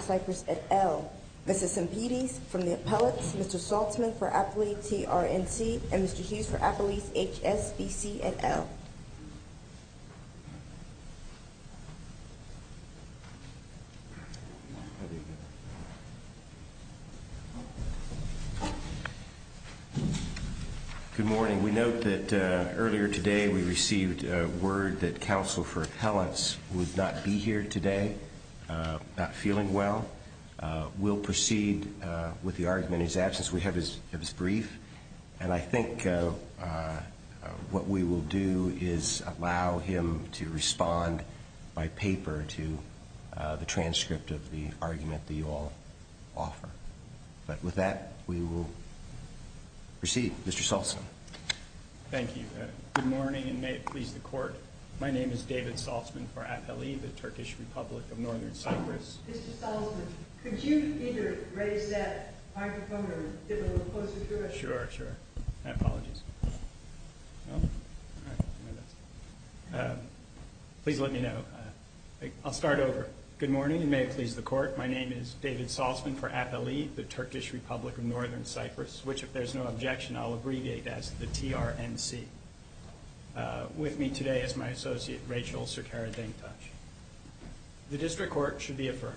Cyprus et al. Mrs. Simpides from the Appellates, Mr. Saltzman for Appalachia T.R.N.C. and Mr. Hughes for Appalachia H.S.V.C. et al. Good morning. We note that earlier today we received word that Counsel for Appellants would not be here today, not feeling well. We'll proceed with the argument in his absence. We have his brief and I think what we will do is allow him to respond by paper to the transcript of the Mr. Saltzman. Thank you. Good morning and may it please the Court. My name is David Saltzman for Appalachia T.R.N.C. Mr. Saltzman, could you either raise that microphone or get a little closer to us? Sure, sure. My apologies. Please let me know. I'll start over. Good morning and may it please the Court. My name is David Saltzman for Appalachia, the Turkish Republic of Northern Cyprus, which if there's no objection I'll abbreviate as the T.R.N.C. With me today is my associate, Rachel Sircara Dengtash. The District Court should be affirmed.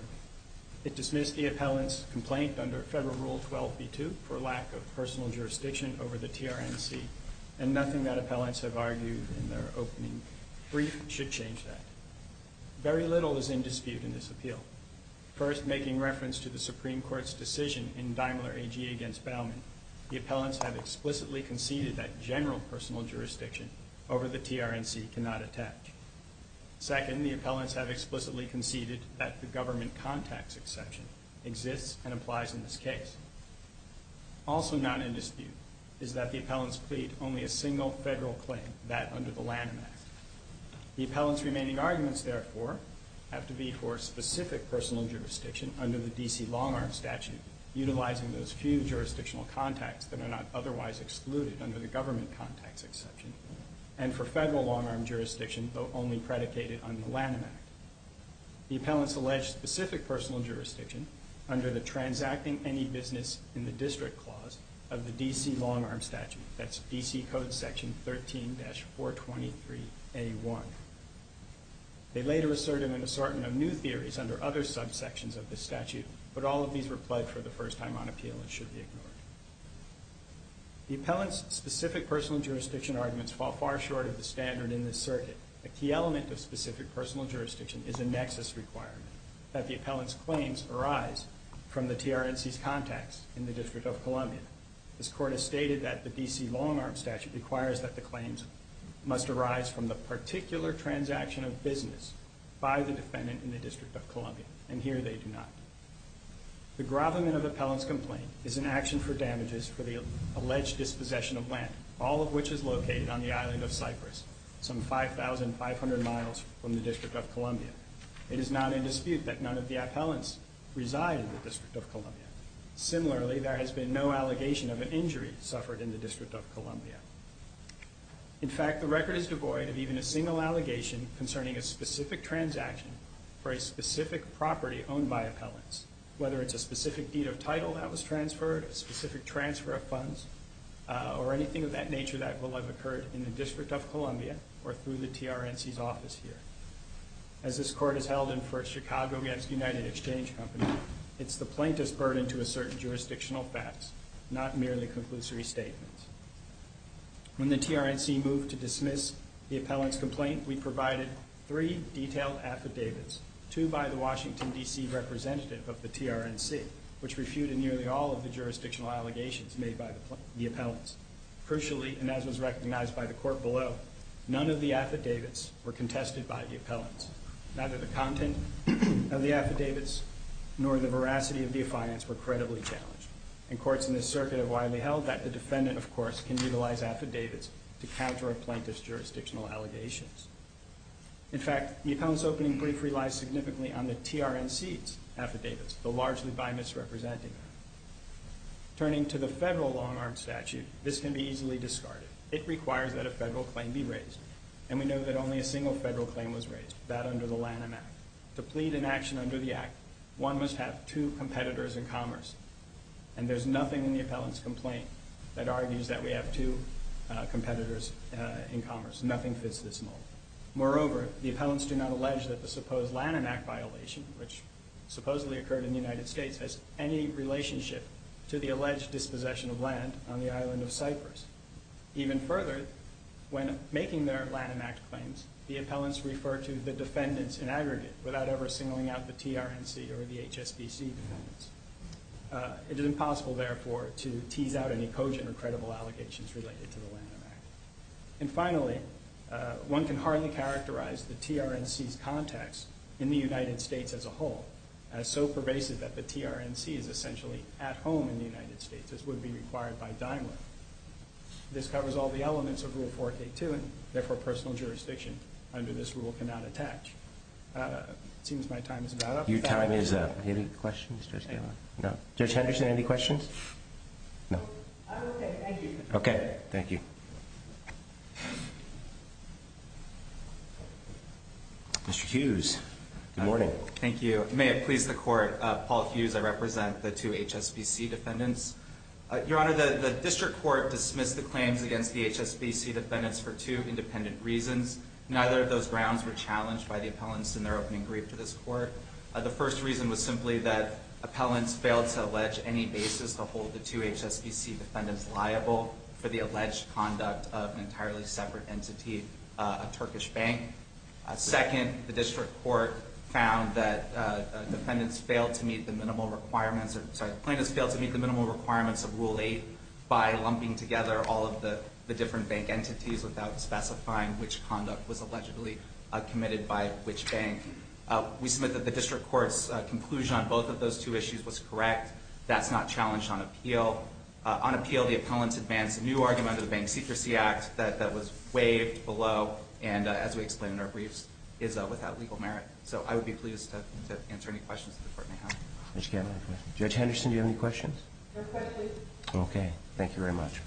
It dismissed the Appellant's complaint under Federal Rule 12b2 for lack of personal jurisdiction over the T.R.N.C. and nothing that Appellants have argued in their opening brief should change that. Very little is in dispute in this appeal. First, making reference to the Supreme Court's decision in Daimler A.G. against Baumann, the Appellants have explicitly conceded that general personal jurisdiction over the T.R.N.C. cannot attach. Second, the Appellants have explicitly conceded that the government contacts exception exists and applies in this case. Also not in dispute is that the Appellants plead only a single Federal claim, that under the Lanham Act. The Appellants' remaining arguments, therefore, have to be for specific personal jurisdiction under the D.C. Longarm Statute, utilizing those few jurisdictional contacts that are not otherwise excluded under the government contacts exception, and for Federal Longarm Jurisdiction, though only predicated on the Lanham Act. The Appellants allege specific personal jurisdiction under the Transacting Any Business in the District Clause of the D.C. Longarm Statute, that's D.C. Code Section 13-423A1. They later asserted an assortment of new theories under other subsections of the statute, but all of these were pledged for the first time on appeal and should be ignored. The Appellants' specific personal jurisdiction arguments fall far short of the standard in this circuit. A key element of specific personal jurisdiction is a nexus requirement that the Appellants' claims arise from the T.R.N.C.'s contacts in the District of Columbia. This Court has stated that the D.C. Longarm Statute requires that the claims must arise from the particular transaction of business by the defendant in the District of Columbia, and here they do not. The grovelment of Appellants' complaint is an action for damages for the alleged dispossession of land, all of which is located on the island of Cyprus, some 5,500 miles from the District of Columbia. It is not in dispute that none of the Appellants reside in the District of Columbia. Similarly, there has been no allegation of an injury suffered in the District of Columbia. In fact, the record is devoid of even a single allegation concerning a specific transaction for a specific property owned by Appellants, whether it's a specific deed of title that was transferred, a specific transfer of funds, or anything of that nature that will have occurred in the District of Columbia or through the T.R.N.C.'s office here. As this Court has held in Chicago against United Exchange Company, it's the plaintiff's burden to assert jurisdictional facts, not merely conclusory statements. When the T.R.N.C. moved to dismiss the Appellants' complaint, we provided three detailed affidavits, two by the Washington, D.C. representative of the T.R.N.C., which refuted nearly all of the jurisdictional allegations made by the Appellants. Crucially, and as was recognized by the Court below, none of the affidavits were contested by the Appellants. Neither the content of the affidavits nor the veracity of the affidavits were credibly challenged. And Courts in this circuit have widely held that the defendant, of course, can utilize affidavits to counter a plaintiff's jurisdictional allegations. In fact, the Appellants' opening brief relies significantly on the T.R.N.C.'s affidavits, though largely by misrepresenting them. Turning to the federal long-arm statute, this can be easily discarded. It requires that a federal claim be raised, and we know that only a single federal claim was raised, that under the Lanham Act. To plead an action under the Act, one must have two competitors in commerce, and there's nothing in the Appellants' complaint that argues that we have two competitors in commerce. Nothing fits this mold. Moreover, the Appellants do not allege that the supposed Lanham Act violation, which supposedly occurred in the United States, has any relationship to the alleged dispossession of land on the island of Cyprus. Even further, when making their Lanham Act claims, the Appellants refer to the defendants in aggregate without ever singling out the T.R.N.C. or the HSBC defendants. It is impossible, therefore, to tease out any cogent or credible allegations related to the Lanham Act. And finally, one can hardly characterize the T.R.N.C.'s context in the United States as a whole, as so pervasive that the T.R.N.C. is essentially at home in the United States, as would be required by Daimler. This covers all the elements of Rule 4K2, and therefore personal jurisdiction under this rule cannot attach. It seems my time is about up. Your time is up. Any questions, Judge Galen? No. Judge Henderson, any questions? No. I'm okay, thank you. Okay, thank you. Mr. Hughes, good morning. Thank you. May it please the Court, Paul Hughes, I represent the two HSBC defendants. Your Honor, the District Court dismissed the claims against the HSBC defendants for two independent reasons. Neither of those grounds were challenged by the Appellants in their opening brief to this Court. The first reason was simply that Appellants failed to allege any basis to hold the two HSBC defendants liable for the alleged conduct of an entirely separate entity, a Turkish bank. Second, the District Court found that defendants failed to meet the minimal requirements of Rule 8 by lumping together all of the different bank entities without specifying which conduct was allegedly committed by which bank. We submit that the District Court's conclusion on both of those two issues was correct. That's not challenged on appeal. On appeal, the Appellants advanced a new argument under the Bank Secrecy Act that was waived below and, as we explained in our briefs, is without legal merit. So I would be pleased to answer any questions that the Court may have. Judge Galen, any questions? Judge Henderson, do you have any questions? No questions. Okay, thank you very much.